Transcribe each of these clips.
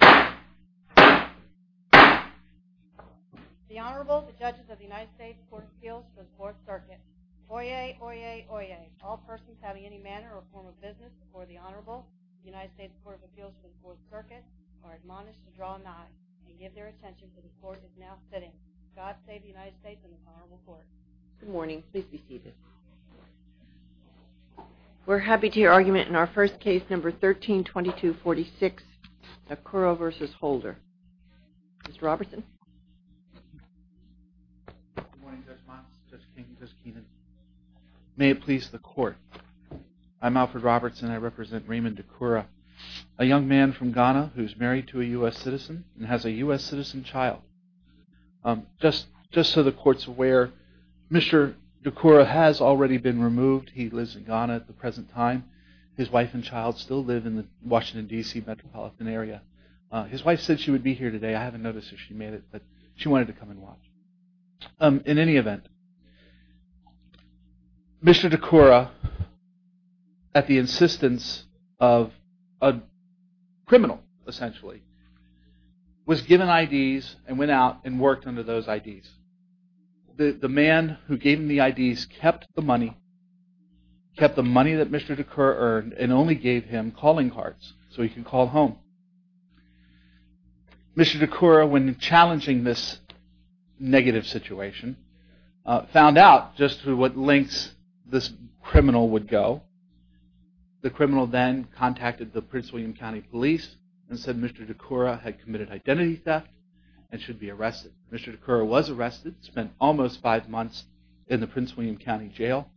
The Honorable, the Judges of the United States Court of Appeals to the Fourth Circuit, Oyez, Oyez, Oyez. All persons having any manner or form of business before the Honorable, the United States Court of Appeals to the Fourth Circuit, are admonished to draw a nod and give their attention to the Court that is now sitting. God save the United States and this Honorable Court. Good morning. Please be seated. We're happy to hear argument in our first case, number 132246, Dakura v. Holder. Mr. Robertson. Good morning, Judge Mox, Judge King, Judge Keenan. May it please the Court. I'm Alfred Robertson. I represent Raymond Dakura, a young man from Ghana who's married to a U.S. citizen and has a U.S. citizen child. Just so the Court's aware, Mr. Dakura has already been removed. He lives in Ghana at the present time. His wife and child still live in the Washington, D.C. metropolitan area. His wife said she would be here today. I haven't noticed if she made it, but she wanted to come and watch. In any event, Mr. Dakura, at the insistence of a criminal, essentially, was given I.D.s and went out and worked under those I.D.s. The man who gave him the I.D.s kept the money, kept the money that Mr. Dakura earned, and only gave him calling cards so he can call home. Mr. Dakura, when challenging this negative situation, found out just what lengths this criminal would go. The criminal then contacted the Prince William County Police and said Mr. Dakura had committed identity theft and should be arrested. Mr. Dakura was arrested, spent almost five months in the Prince William County Jail,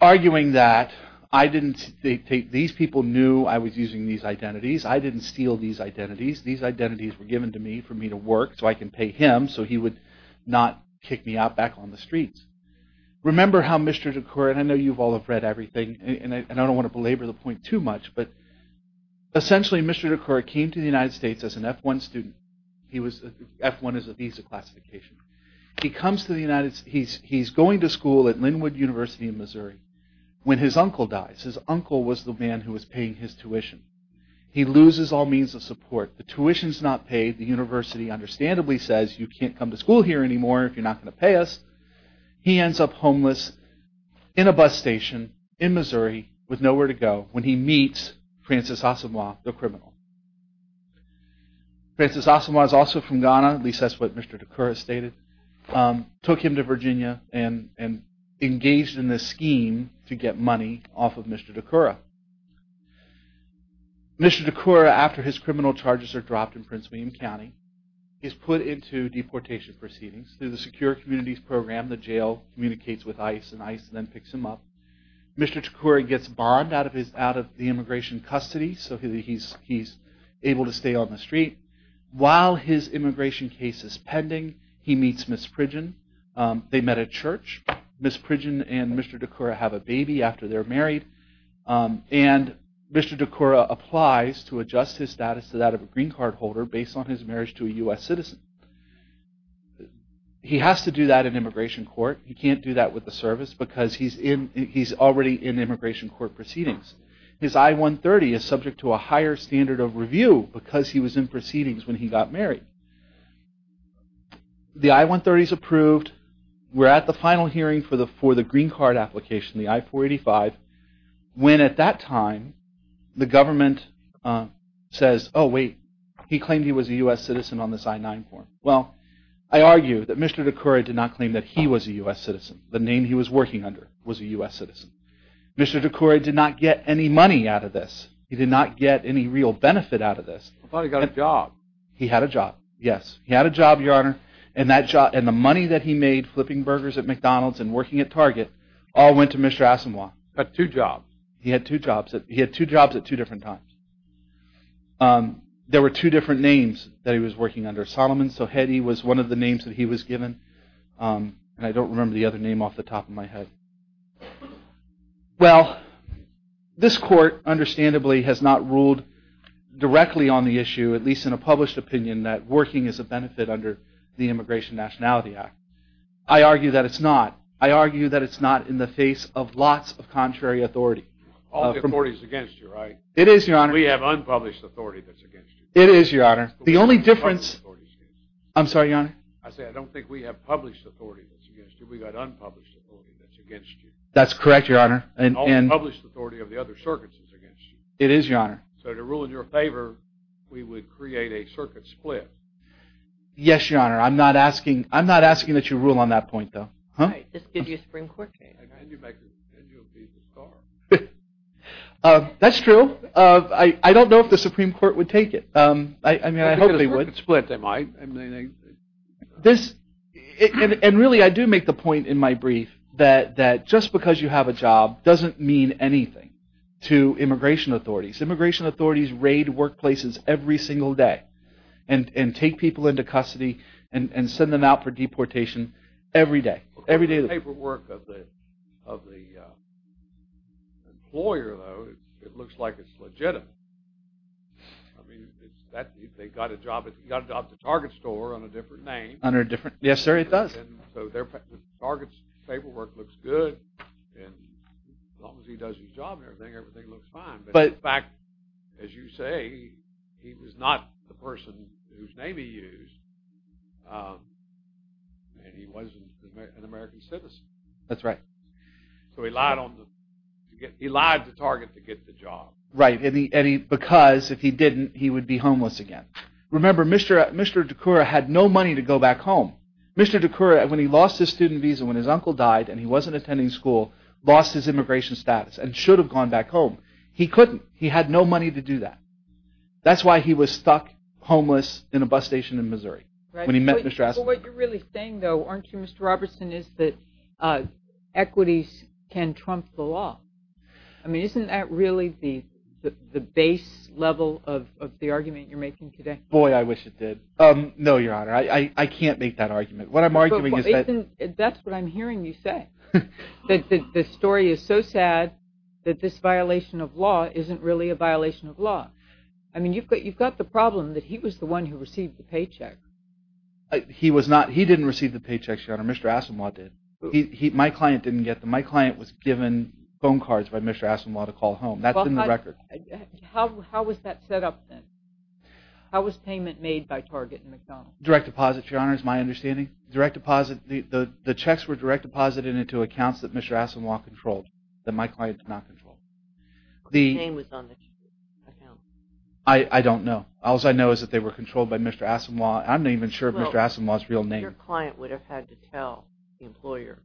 arguing that these people knew I was using these identities. I didn't steal these identities. These identities were given to me for me to work so I can pay him so he would not kick me out back on the streets. Remember how Mr. Dakura, and I know you've all read everything, and I don't want to belabor the point too much, but essentially Mr. Dakura came to the United States as an F-1 student. F-1 is a visa classification. He's going to school at Linwood University in Missouri when his uncle dies. His uncle was the man who was paying his tuition. He loses all means of support. The tuition's not paid. The university understandably says you can't come to school here anymore if you're not going to pay us. He ends up homeless in a bus station in Missouri with nowhere to go when he meets Francis Asamoah, the criminal. Francis Asamoah is also from Ghana, at least that's what Mr. Dakura stated. Took him to Virginia and engaged in this scheme to get money off of Mr. Dakura. Mr. Dakura, after his criminal charges are dropped in Prince William County, is put into deportation proceedings. Through the Secure Communities Program, the jail communicates with ICE and ICE then picks him up. Mr. Dakura gets barred out of the immigration custody so he's able to stay on the street. While his immigration case is pending, he meets Ms. Pridgen. They met at church. Ms. Pridgen and Mr. Dakura have a baby after they're married. And Mr. Dakura applies to adjust his status to that of a green card holder based on his marriage to a U.S. citizen. He has to do that in immigration court. He can't do that with the service because he's already in immigration court proceedings. His I-130 is subject to a higher standard of review because he was in proceedings when he got married. The I-130 is approved. We're at the final hearing for the green card application, the I-485, when at that time the government says, oh wait, he claimed he was a U.S. citizen on this I-9 form. Well, I argue that Mr. Dakura did not claim that he was a U.S. citizen. The name he was working under was a U.S. citizen. Mr. Dakura did not get any money out of this. He did not get any real benefit out of this. I thought he got a job. He had a job, yes. He had a job, Your Honor, and the money that he made flipping burgers at McDonald's and working at Target all went to Mr. Asamoah. He had two jobs. He had two jobs at two different times. There were two different names that he was working under. Solomon Sohedi was one of the names that he was given, and I don't remember the other name off the top of my head. Well, this court understandably has not ruled directly on the issue, at least in a published opinion, that working is a benefit under the Immigration Nationality Act. I argue that it's not. I argue that it's not in the face of lots of contrary authority. All the authority is against you, right? It is, Your Honor. We have unpublished authority that's against you. It is, Your Honor. The only difference… I'm sorry, Your Honor. I said I don't think we have published authority that's against you. We've got unpublished authority that's against you. That's correct, Your Honor. All the published authority of the other circuits is against you. It is, Your Honor. So to rule in your favor, we would create a circuit split. Yes, Your Honor. I'm not asking that you rule on that point, though. All right. This gives you a Supreme Court case. And you'll be disbarred. That's true. I don't know if the Supreme Court would take it. I mean, I hope they would. A circuit split, they might. And really, I do make the point in my brief that just because you have a job doesn't mean anything to immigration authorities. Immigration authorities raid workplaces every single day and take people into custody and send them out for deportation every day. The paperwork of the employer, though, it looks like it's legitimate. I mean, they got a job at the Target store under a different name. Yes, sir, it does. So the Target's paperwork looks good, and as long as he does his job and everything, everything looks fine. But in fact, as you say, he was not the person whose name he used, and he wasn't an American citizen. That's right. So he lied to Target to get the job. Right, and because if he didn't, he would be homeless again. Remember, Mr. DeCoura had no money to go back home. Mr. DeCoura, when he lost his student visa when his uncle died and he wasn't attending school, lost his immigration status and should have gone back home. He couldn't. He had no money to do that. That's why he was stuck homeless in a bus station in Missouri when he met Ms. Dressler. But what you're really saying, though, aren't you, Mr. Robertson, is that equities can trump the law. I mean, isn't that really the base level of the argument you're making today? Boy, I wish it did. No, Your Honor, I can't make that argument. What I'm arguing is that… That's what I'm hearing you say, that the story is so sad that this violation of law isn't really a violation of law. I mean, you've got the problem that he was the one who received the paycheck. He was not. He didn't receive the paycheck, Your Honor. Mr. Asimov did. My client didn't get them. My client was given phone cards by Mr. Asimov to call home. That's in the record. How was that set up then? How was payment made by Target and McDonald's? Direct deposit, Your Honor, is my understanding. The checks were direct deposited into accounts that Mr. Asimov controlled, that my client did not control. The name was on the accounts. I don't know. All I know is that they were controlled by Mr. Asimov. I'm not even sure if Mr. Asimov's real name. Your client would have had to tell the employer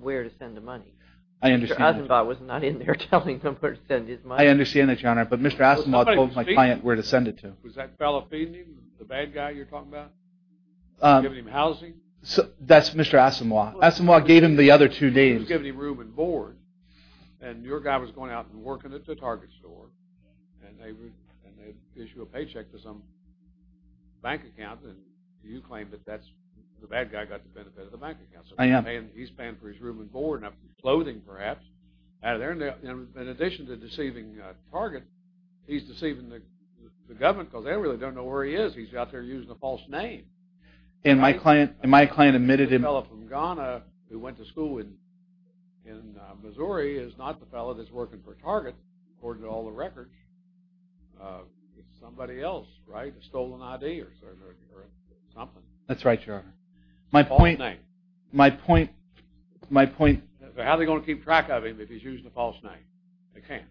where to send the money. I understand that. Mr. Asimov was not in there telling them where to send his money. I understand that, Your Honor, but Mr. Asimov told my client where to send it to. Was that fellow feeding him, the bad guy you're talking about? Giving him housing? That's Mr. Asimov. Asimov gave him the other two days. He was giving him room and board, and your guy was going out and working at the Target store, and they issued a paycheck to some bank account, and you claim that the bad guy got the benefit of the bank account. I am. He's paying for his room and board and clothing, perhaps. In addition to deceiving Target, he's deceiving the government because they really don't know where he is. He's out there using a false name. And my client admitted him. The fellow from Ghana who went to school in Missouri is not the fellow that's working for Target, according to all the records. It's somebody else, right? A stolen ID or something. That's right, Your Honor. False name. My point, my point. How are they going to keep track of him if he's using a false name? They can't.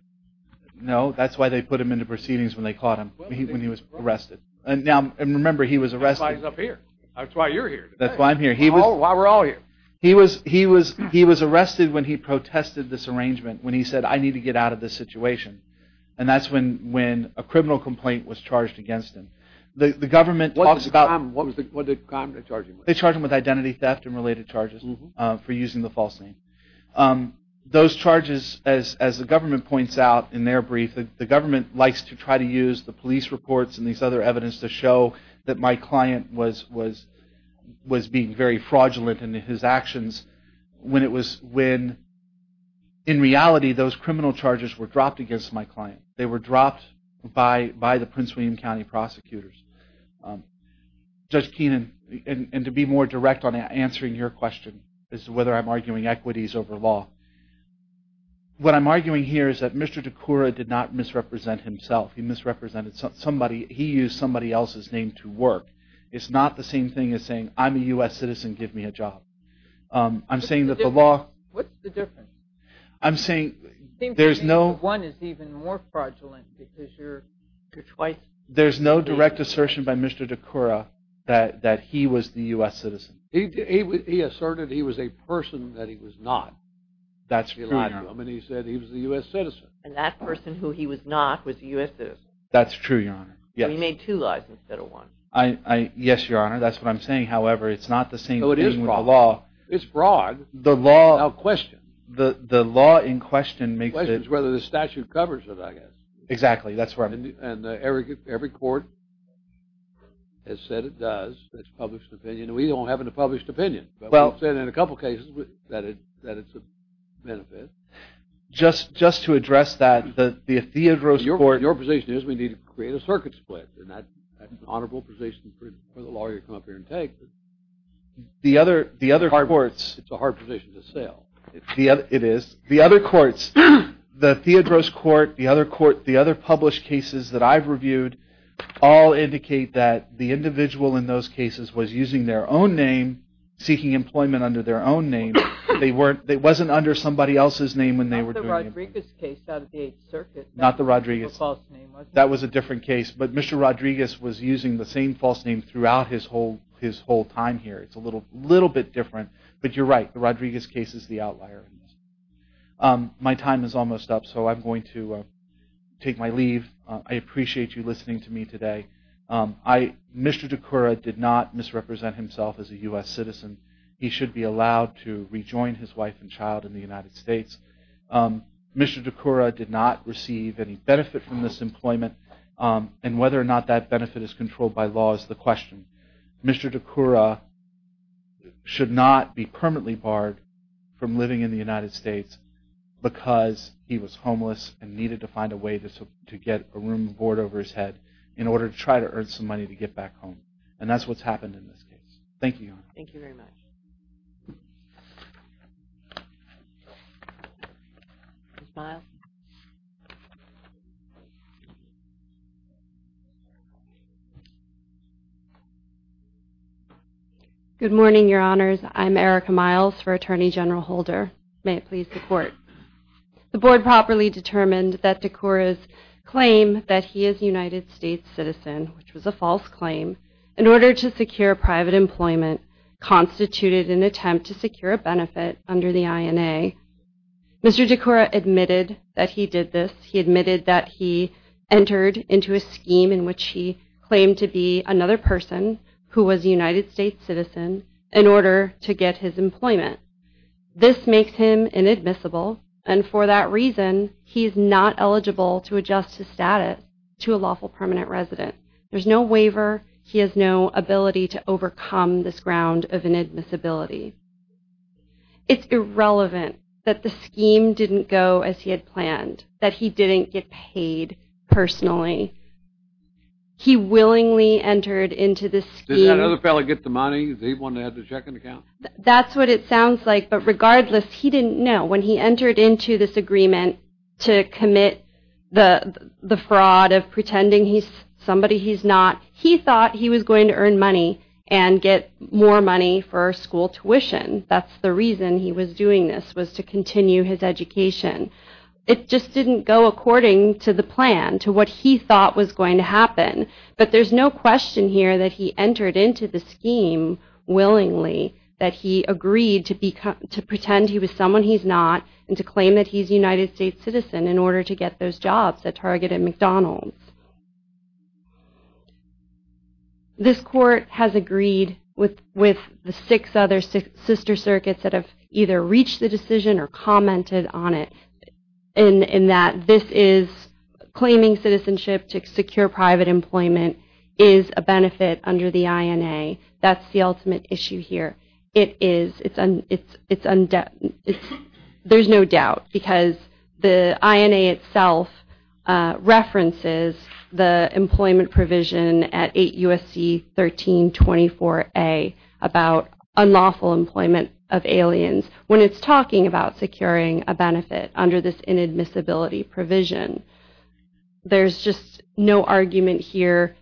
No, that's why they put him into proceedings when they caught him, when he was arrested. Now, remember, he was arrested. That's why he's up here. That's why you're here today. That's why I'm here. That's why we're all here. He was arrested when he protested this arrangement, when he said, I need to get out of this situation. And that's when a criminal complaint was charged against him. What did the comms charge him with? They charged him with identity theft and related charges for using the false name. Those charges, as the government points out in their brief, the government likes to try to use the police reports and these other evidence to show that my client was being very fraudulent in his actions when, in reality, those criminal charges were dropped against my client. They were dropped by the Prince William County prosecutors. Judge Keenan, and to be more direct on answering your question as to whether I'm arguing equities over law, what I'm arguing here is that Mr. DeCoura did not misrepresent himself. He misrepresented somebody. He used somebody else's name to work. It's not the same thing as saying, I'm a U.S. citizen. Give me a job. I'm saying that the law— What's the difference? I'm saying there's no— It seems to me that one is even more fraudulent because you're twice— There's no direct assertion by Mr. DeCoura that he was the U.S. citizen. He asserted he was a person that he was not. That's true, Your Honor. And he said he was a U.S. citizen. And that person who he was not was a U.S. citizen. That's true, Your Honor. So he made two lies instead of one. Yes, Your Honor. That's what I'm saying. However, it's not the same thing with the law. It's fraud. It's fraud. The law in question makes it— The question is whether the statute covers it, I guess. Exactly. And every court has said it does. That's the public's opinion. We don't have a published opinion. But we've said in a couple cases that it's a benefit. Just to address that, the Theodros Court— Your position is we need to create a circuit split. And that's an honorable position for the lawyer to come up here and take. The other courts— It's a hard position to sell. It is. The other courts, the Theodros Court, the other published cases that I've reviewed, all indicate that the individual in those cases was using their own name, seeking employment under their own name. It wasn't under somebody else's name when they were doing it. Not the Rodriguez case out at the Eighth Circuit. Not the Rodriguez. That was a false name, wasn't it? That was a different case. But Mr. Rodriguez was using the same false name throughout his whole time here. It's a little bit different. But you're right. The Rodriguez case is the outlier. My time is almost up, so I'm going to take my leave. I appreciate you listening to me today. Mr. DeCoura did not misrepresent himself as a U.S. citizen. He should be allowed to rejoin his wife and child in the United States. Mr. DeCoura did not receive any benefit from this employment, and whether or not that benefit is controlled by law is the question. Mr. DeCoura should not be permanently barred from living in the United States because he was homeless and needed to find a way to get a room of board over his head in order to try to earn some money to get back home. And that's what's happened in this case. Thank you. Thank you very much. Ms. Miles. Good morning, Your Honors. I'm Erica Miles for Attorney General Holder. May it please the Court. The Board properly determined that DeCoura's claim that he is a United States citizen, which was a false claim, in order to secure private employment constituted an attempt to secure a benefit under the INA. Mr. DeCoura admitted that he did this. He admitted that he entered into a scheme in which he claimed to be another person who was a United States citizen in order to get his employment. This makes him inadmissible, and for that reason, he is not eligible to adjust his status to a lawful permanent resident. There's no waiver. He has no ability to overcome this ground of inadmissibility. It's irrelevant that the scheme didn't go as he had planned, that he didn't get paid personally. He willingly entered into this scheme. Did that other fellow get the money? Did he want to have the checking account? That's what it sounds like, but regardless, he didn't know. When he entered into this agreement to commit the fraud of pretending he's somebody he's not, he thought he was going to earn money and get more money for school tuition. That's the reason he was doing this, was to continue his education. It just didn't go according to the plan, to what he thought was going to happen. But there's no question here that he entered into the scheme willingly, that he agreed to pretend he was someone he's not and to claim that he's a United States citizen in order to get those jobs at Target and McDonald's. This court has agreed with the six other sister circuits that have either reached the decision or commented on it, in that this is claiming citizenship to secure private employment is a benefit under the INA. That's the ultimate issue here. It is. There's no doubt because the INA itself references the employment provision at 8 U.S.C. 1324A about unlawful employment of aliens. When it's talking about securing a benefit under this inadmissibility provision, there's just no argument here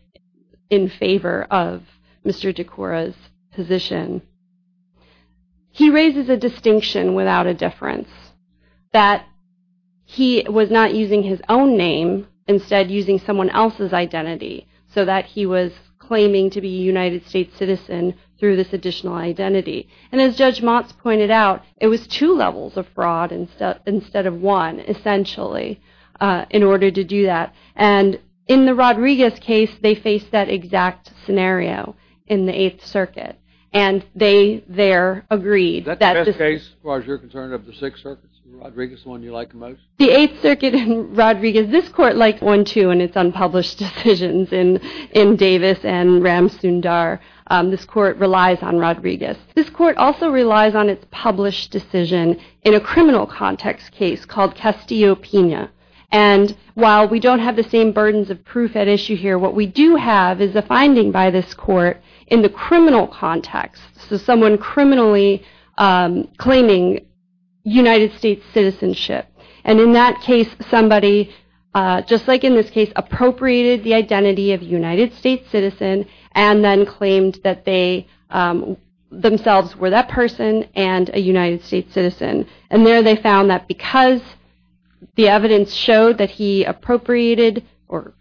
in favor of Mr. DeCora's position. He raises a distinction without a difference, that he was not using his own name, instead using someone else's identity, so that he was claiming to be a United States citizen through this additional identity. And as Judge Motz pointed out, it was two levels of fraud instead of one, essentially, in order to do that. And in the Rodriguez case, they faced that exact scenario in the 8th Circuit. And they there agreed. Is that the best case, as far as you're concerned, of the six circuits? Rodriguez the one you like the most? The 8th Circuit and Rodriguez, this court liked one, too, and it's unpublished decisions in Davis and Ram Sundar. This court relies on Rodriguez. This court also relies on its published decision in a criminal context case called Castillo-Pena. And while we don't have the same burdens of proof at issue here, what we do have is a finding by this court in the criminal context, so someone criminally claiming United States citizenship. And in that case, somebody, just like in this case, appropriated the identity of a United States citizen and then claimed that they themselves were that person and a United States citizen. And there they found that because the evidence showed that he appropriated or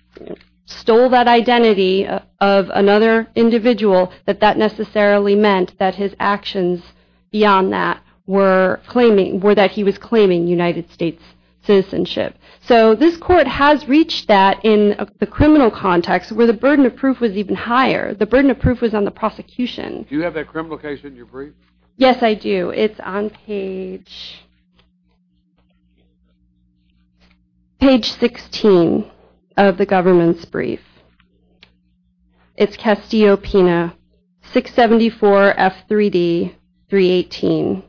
stole that identity of another individual, that that necessarily meant that his actions beyond that were claiming or that he was claiming United States citizenship. So this court has reached that in the criminal context where the burden of proof was even higher. The burden of proof was on the prosecution. Do you have that criminal case in your brief? Yes, I do. It's Castillo-Pena, 674 F3D, 318.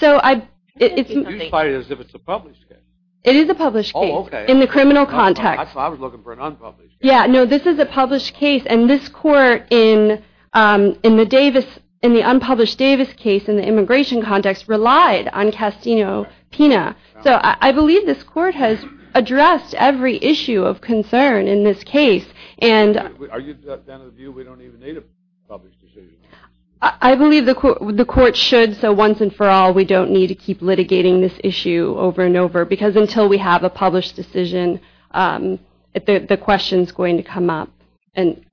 So I... You cited it as if it's a published case. It is a published case in the criminal context. I thought I was looking for an unpublished case. Yeah, no, this is a published case, and this court in the Davis, in the unpublished Davis case in the immigration context relied on Castillo-Pena. So I believe this court has addressed every issue of concern in this case, and... Are you down to the view we don't even need a published decision? I believe the court should, so once and for all, we don't need to keep litigating this issue over and over because until we have a published decision, the question's going to come up. And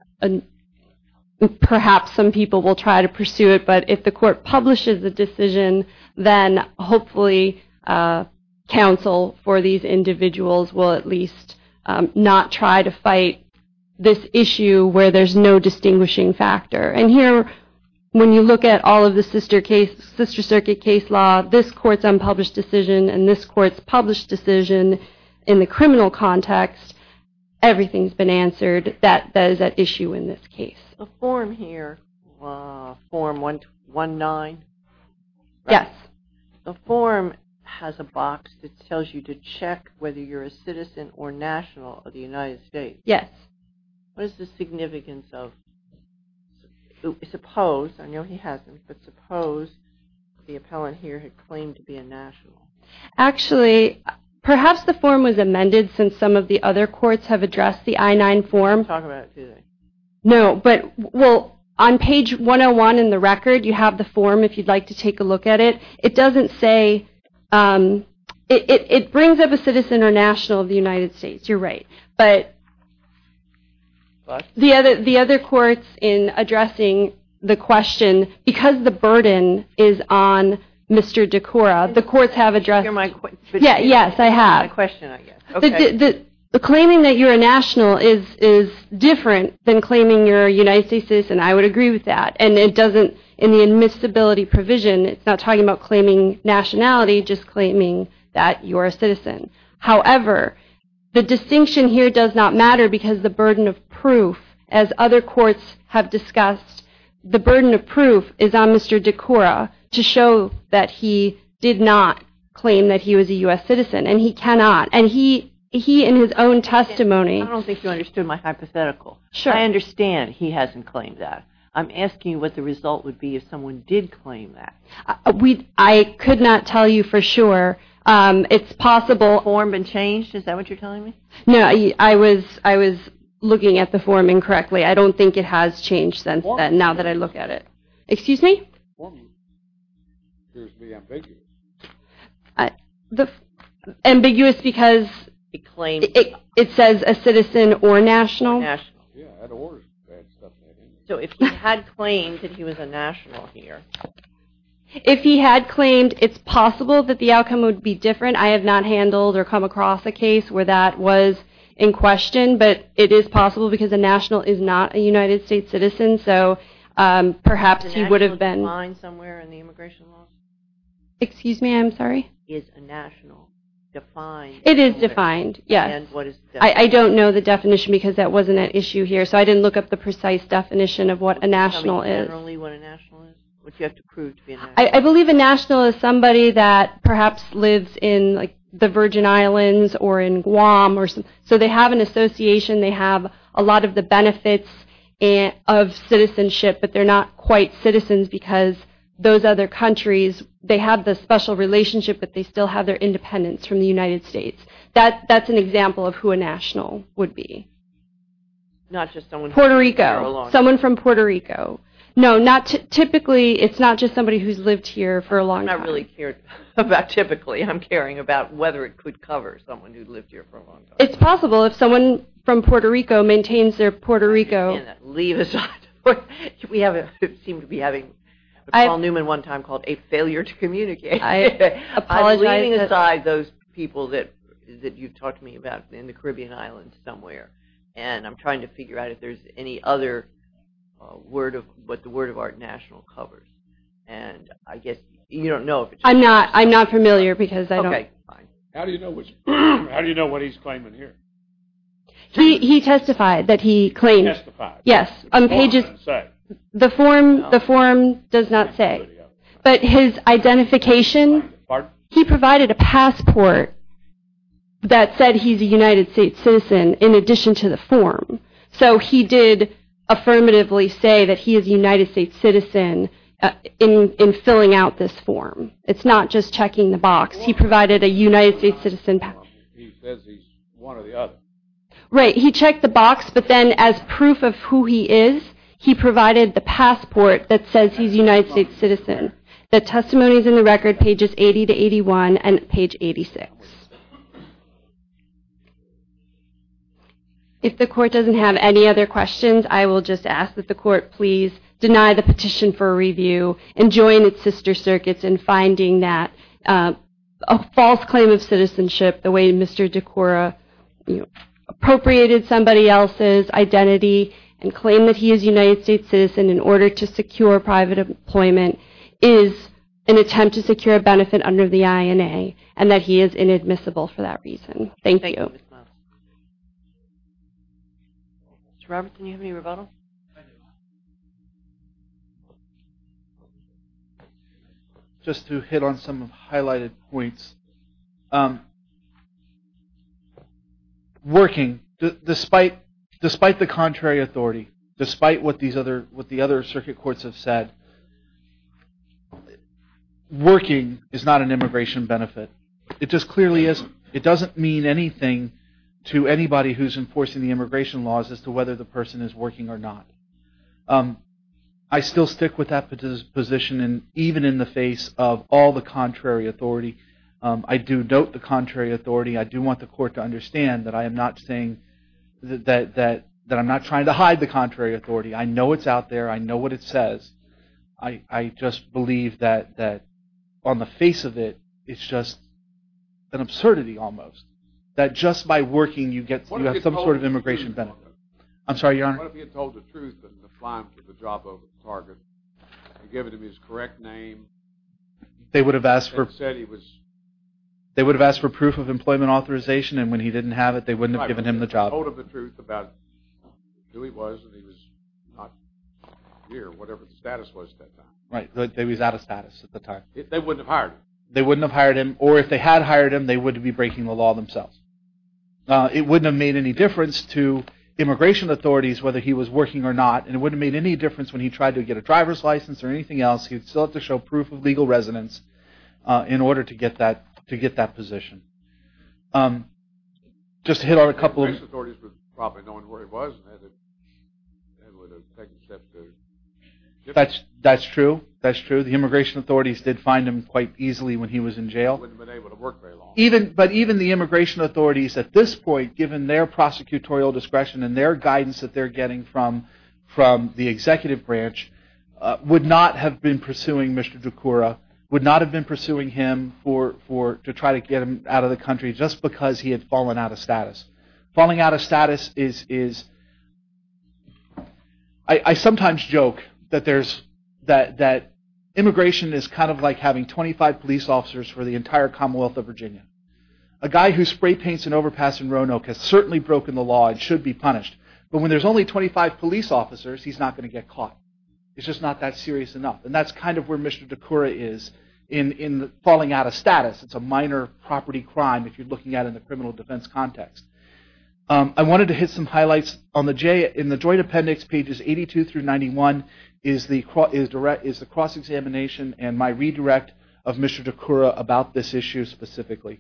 perhaps some people will try to pursue it, but if the court publishes the decision, then hopefully counsel for these individuals will at least not try to fight this issue where there's no distinguishing factor. And here, when you look at all of the sister case, sister circuit case law, this court's unpublished decision and this court's published decision in the criminal context, everything's been answered. That is at issue in this case. The form here, form 1-9? Yes. The form has a box that tells you to check whether you're a citizen or national of the United States. Yes. What is the significance of... Suppose, I know he hasn't, but suppose the appellant here had claimed to be a national. Actually, perhaps the form was amended since some of the other courts have addressed the I-9 form. No, but on page 101 in the record, you have the form if you'd like to take a look at it. It doesn't say... It brings up a citizen or national of the United States. You're right. But the other courts in addressing the question, because the burden is on Mr. DeCora, the courts have addressed... Yes, I have. Claiming that you're a national is different than claiming you're a United States citizen. I would agree with that. In the admissibility provision, it's not talking about claiming nationality, just claiming that you're a citizen. However, the distinction here does not matter because the burden of proof, as other courts have discussed, the burden of proof is on Mr. DeCora to show that he did not claim that he was a U.S. citizen. And he cannot. And he, in his own testimony... I don't think you understood my hypothetical. Sure. I understand he hasn't claimed that. I'm asking what the result would be if someone did claim that. I could not tell you for sure. It's possible... Has the form been changed? Is that what you're telling me? No, I was looking at the form incorrectly. I don't think it has changed since then, now that I look at it. Excuse me? The form appears to be ambiguous. Ambiguous because it says a citizen or national. So if he had claimed that he was a national here... If he had claimed, it's possible that the outcome would be different. I have not handled or come across a case where that was in question, but it is possible because a national is not a United States citizen, so perhaps he would have been... Excuse me, I'm sorry? Is a national defined? It is defined, yes. I don't know the definition because that wasn't an issue here, so I didn't look up the precise definition of what a national is. Can you tell me generally what a national is, what you have to prove to be a national? I believe a national is somebody that perhaps lives in the Virgin Islands or in Guam. So they have an association. They have a lot of the benefits of citizenship, but they're not quite citizens because those other countries, they have the special relationship, but they still have their independence from the United States. That's an example of who a national would be. Not just someone... Puerto Rico. Someone from Puerto Rico. No, typically it's not just somebody who's lived here for a long time. I'm not really caring about typically. I'm caring about whether it could cover someone who lived here for a long time. It's possible if someone from Puerto Rico maintains their Puerto Rico... Leave aside... We seem to be having a Paul Newman one time called a failure to communicate. I apologize. I'm leaving aside those people that you've talked to me about in the Caribbean islands somewhere, and I'm trying to figure out if there's any other word of, what the word of art national covers, and I guess you don't know if it's... I'm not familiar because I don't... Okay, fine. How do you know what he's claiming here? He testified that he claimed... He testified? Yes. The form does not say. But his identification... Pardon? He provided a passport that said he's a United States citizen in addition to the form. So he did affirmatively say that he is a United States citizen in filling out this form. It's not just checking the box. He provided a United States citizen... He says he's one or the other. Right. He checked the box, but then as proof of who he is, he provided the passport that says he's a United States citizen. The testimony is in the record, pages 80 to 81 and page 86. If the court doesn't have any other questions, I will just ask that the court please deny the petition for review and join its sister circuits in finding that a false claim of citizenship, the way Mr. DeCora appropriated somebody else's identity and claimed that he is a United States citizen in order to secure private employment, is an attempt to secure a benefit under the INA and that he is inadmissible for that reason. Thank you. Mr. Robertson, do you have any rebuttal? I do. Just to hit on some highlighted points. Working, despite the contrary authority, despite what the other circuit courts have said, working is not an immigration benefit. It just clearly isn't. It doesn't mean anything to anybody who is enforcing the immigration laws as to whether the person is working or not. I still stick with that position even in the face of all the contrary authority. I do doubt the contrary authority. I do want the court to understand that I am not trying to hide the contrary authority. I know it's out there. I know what it says. I just believe that on the face of it, it's just an absurdity almost, that just by working, you have some sort of immigration benefit. I'm sorry, Your Honor. What if he had told the truth and applied for the job over at Target and given him his correct name? They would have asked for proof of employment authorization and when he didn't have it, they wouldn't have given him the job. Right, but if he had told them the truth about who he was and he was not here or whatever the status was at that time. Right, he was out of status at the time. They wouldn't have hired him. They wouldn't have hired him or if they had hired him, they wouldn't be breaking the law themselves. It wouldn't have made any difference to immigration authorities whether he was working or not and it wouldn't have made any difference when he tried to get a driver's license or anything else. He would still have to show proof of legal residence in order to get that position. Just to hit on a couple of... The immigration authorities would probably know where he was and would have taken steps to... That's true. That's true. The immigration authorities did find him quite easily when he was in jail. He wouldn't have been able to work very long. But even the immigration authorities at this point, given their prosecutorial discretion and their guidance that they're getting from the executive branch, would not have been pursuing Mr. Ducoura, would not have been pursuing him to try to get him out of the country just because he had fallen out of status. Falling out of status is... I sometimes joke that immigration is kind of like having 25 police officers for the entire Commonwealth of Virginia. A guy who spray paints an overpass in Roanoke has certainly broken the law and should be punished. But when there's only 25 police officers, he's not going to get caught. It's just not that serious enough. And that's kind of where Mr. Ducoura is in falling out of status. It's a minor property crime if you're looking at it in the criminal defense context. I wanted to hit some highlights on the J. In the joint appendix, pages 82 through 91, is the cross-examination and my redirect of Mr. Ducoura about this issue specifically.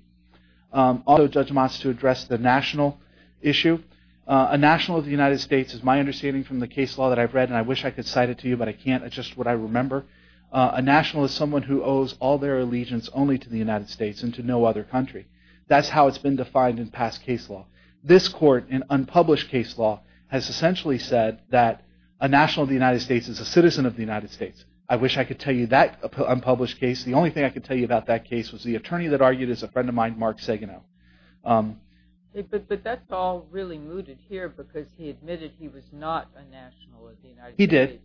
Also, Judge Moss to address the national issue. A national of the United States is my understanding from the case law that I've read, and I wish I could cite it to you, but I can't. It's just what I remember. A national is someone who owes all their allegiance only to the United States and to no other country. That's how it's been defined in past case law. This court, in unpublished case law, has essentially said that a national of the United States is a citizen of the United States. I wish I could tell you that unpublished case. The only thing I could tell you about that case was the attorney that argued is a friend of mine, Mark Saganow. But that's all really mooted here because he admitted he was not a national of the United States. He did.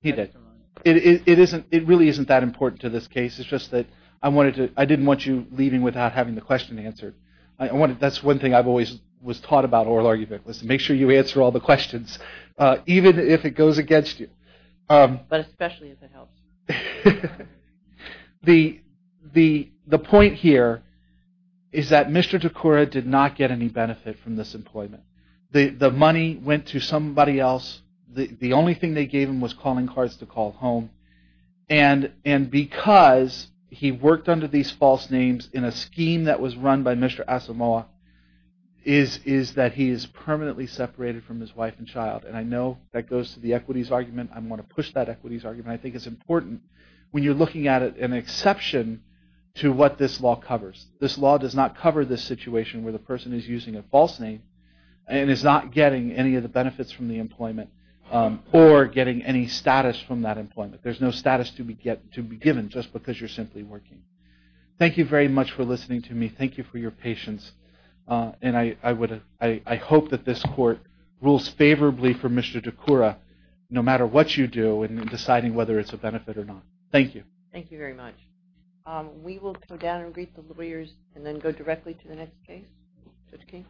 He did. It really isn't that important to this case. It's just that I didn't want you leaving without having the question answered. That's one thing I've always was taught about oral arguments. Make sure you answer all the questions, even if it goes against you. But especially if it helps. The point here is that Mr. DeCoura did not get any benefit from this employment. The money went to somebody else. The only thing they gave him was calling cards to call home. And because he worked under these false names in a scheme that was run by Mr. Asamoah, is that he is permanently separated from his wife and child. And I know that goes to the equities argument. I want to push that equities argument. I think it's important, when you're looking at it, an exception to what this law covers. This law does not cover the situation where the person is using a false name and is not getting any of the benefits from the employment or getting any status from that employment. There's no status to be given just because you're simply working. Thank you very much for listening to me. Thank you for your patience. And I hope that this court rules favorably for Mr. DeCoura, no matter what you do, in deciding whether it's a benefit or not. Thank you. Thank you very much. We will come down and greet the lawyers and then go directly to the next case. Judge King.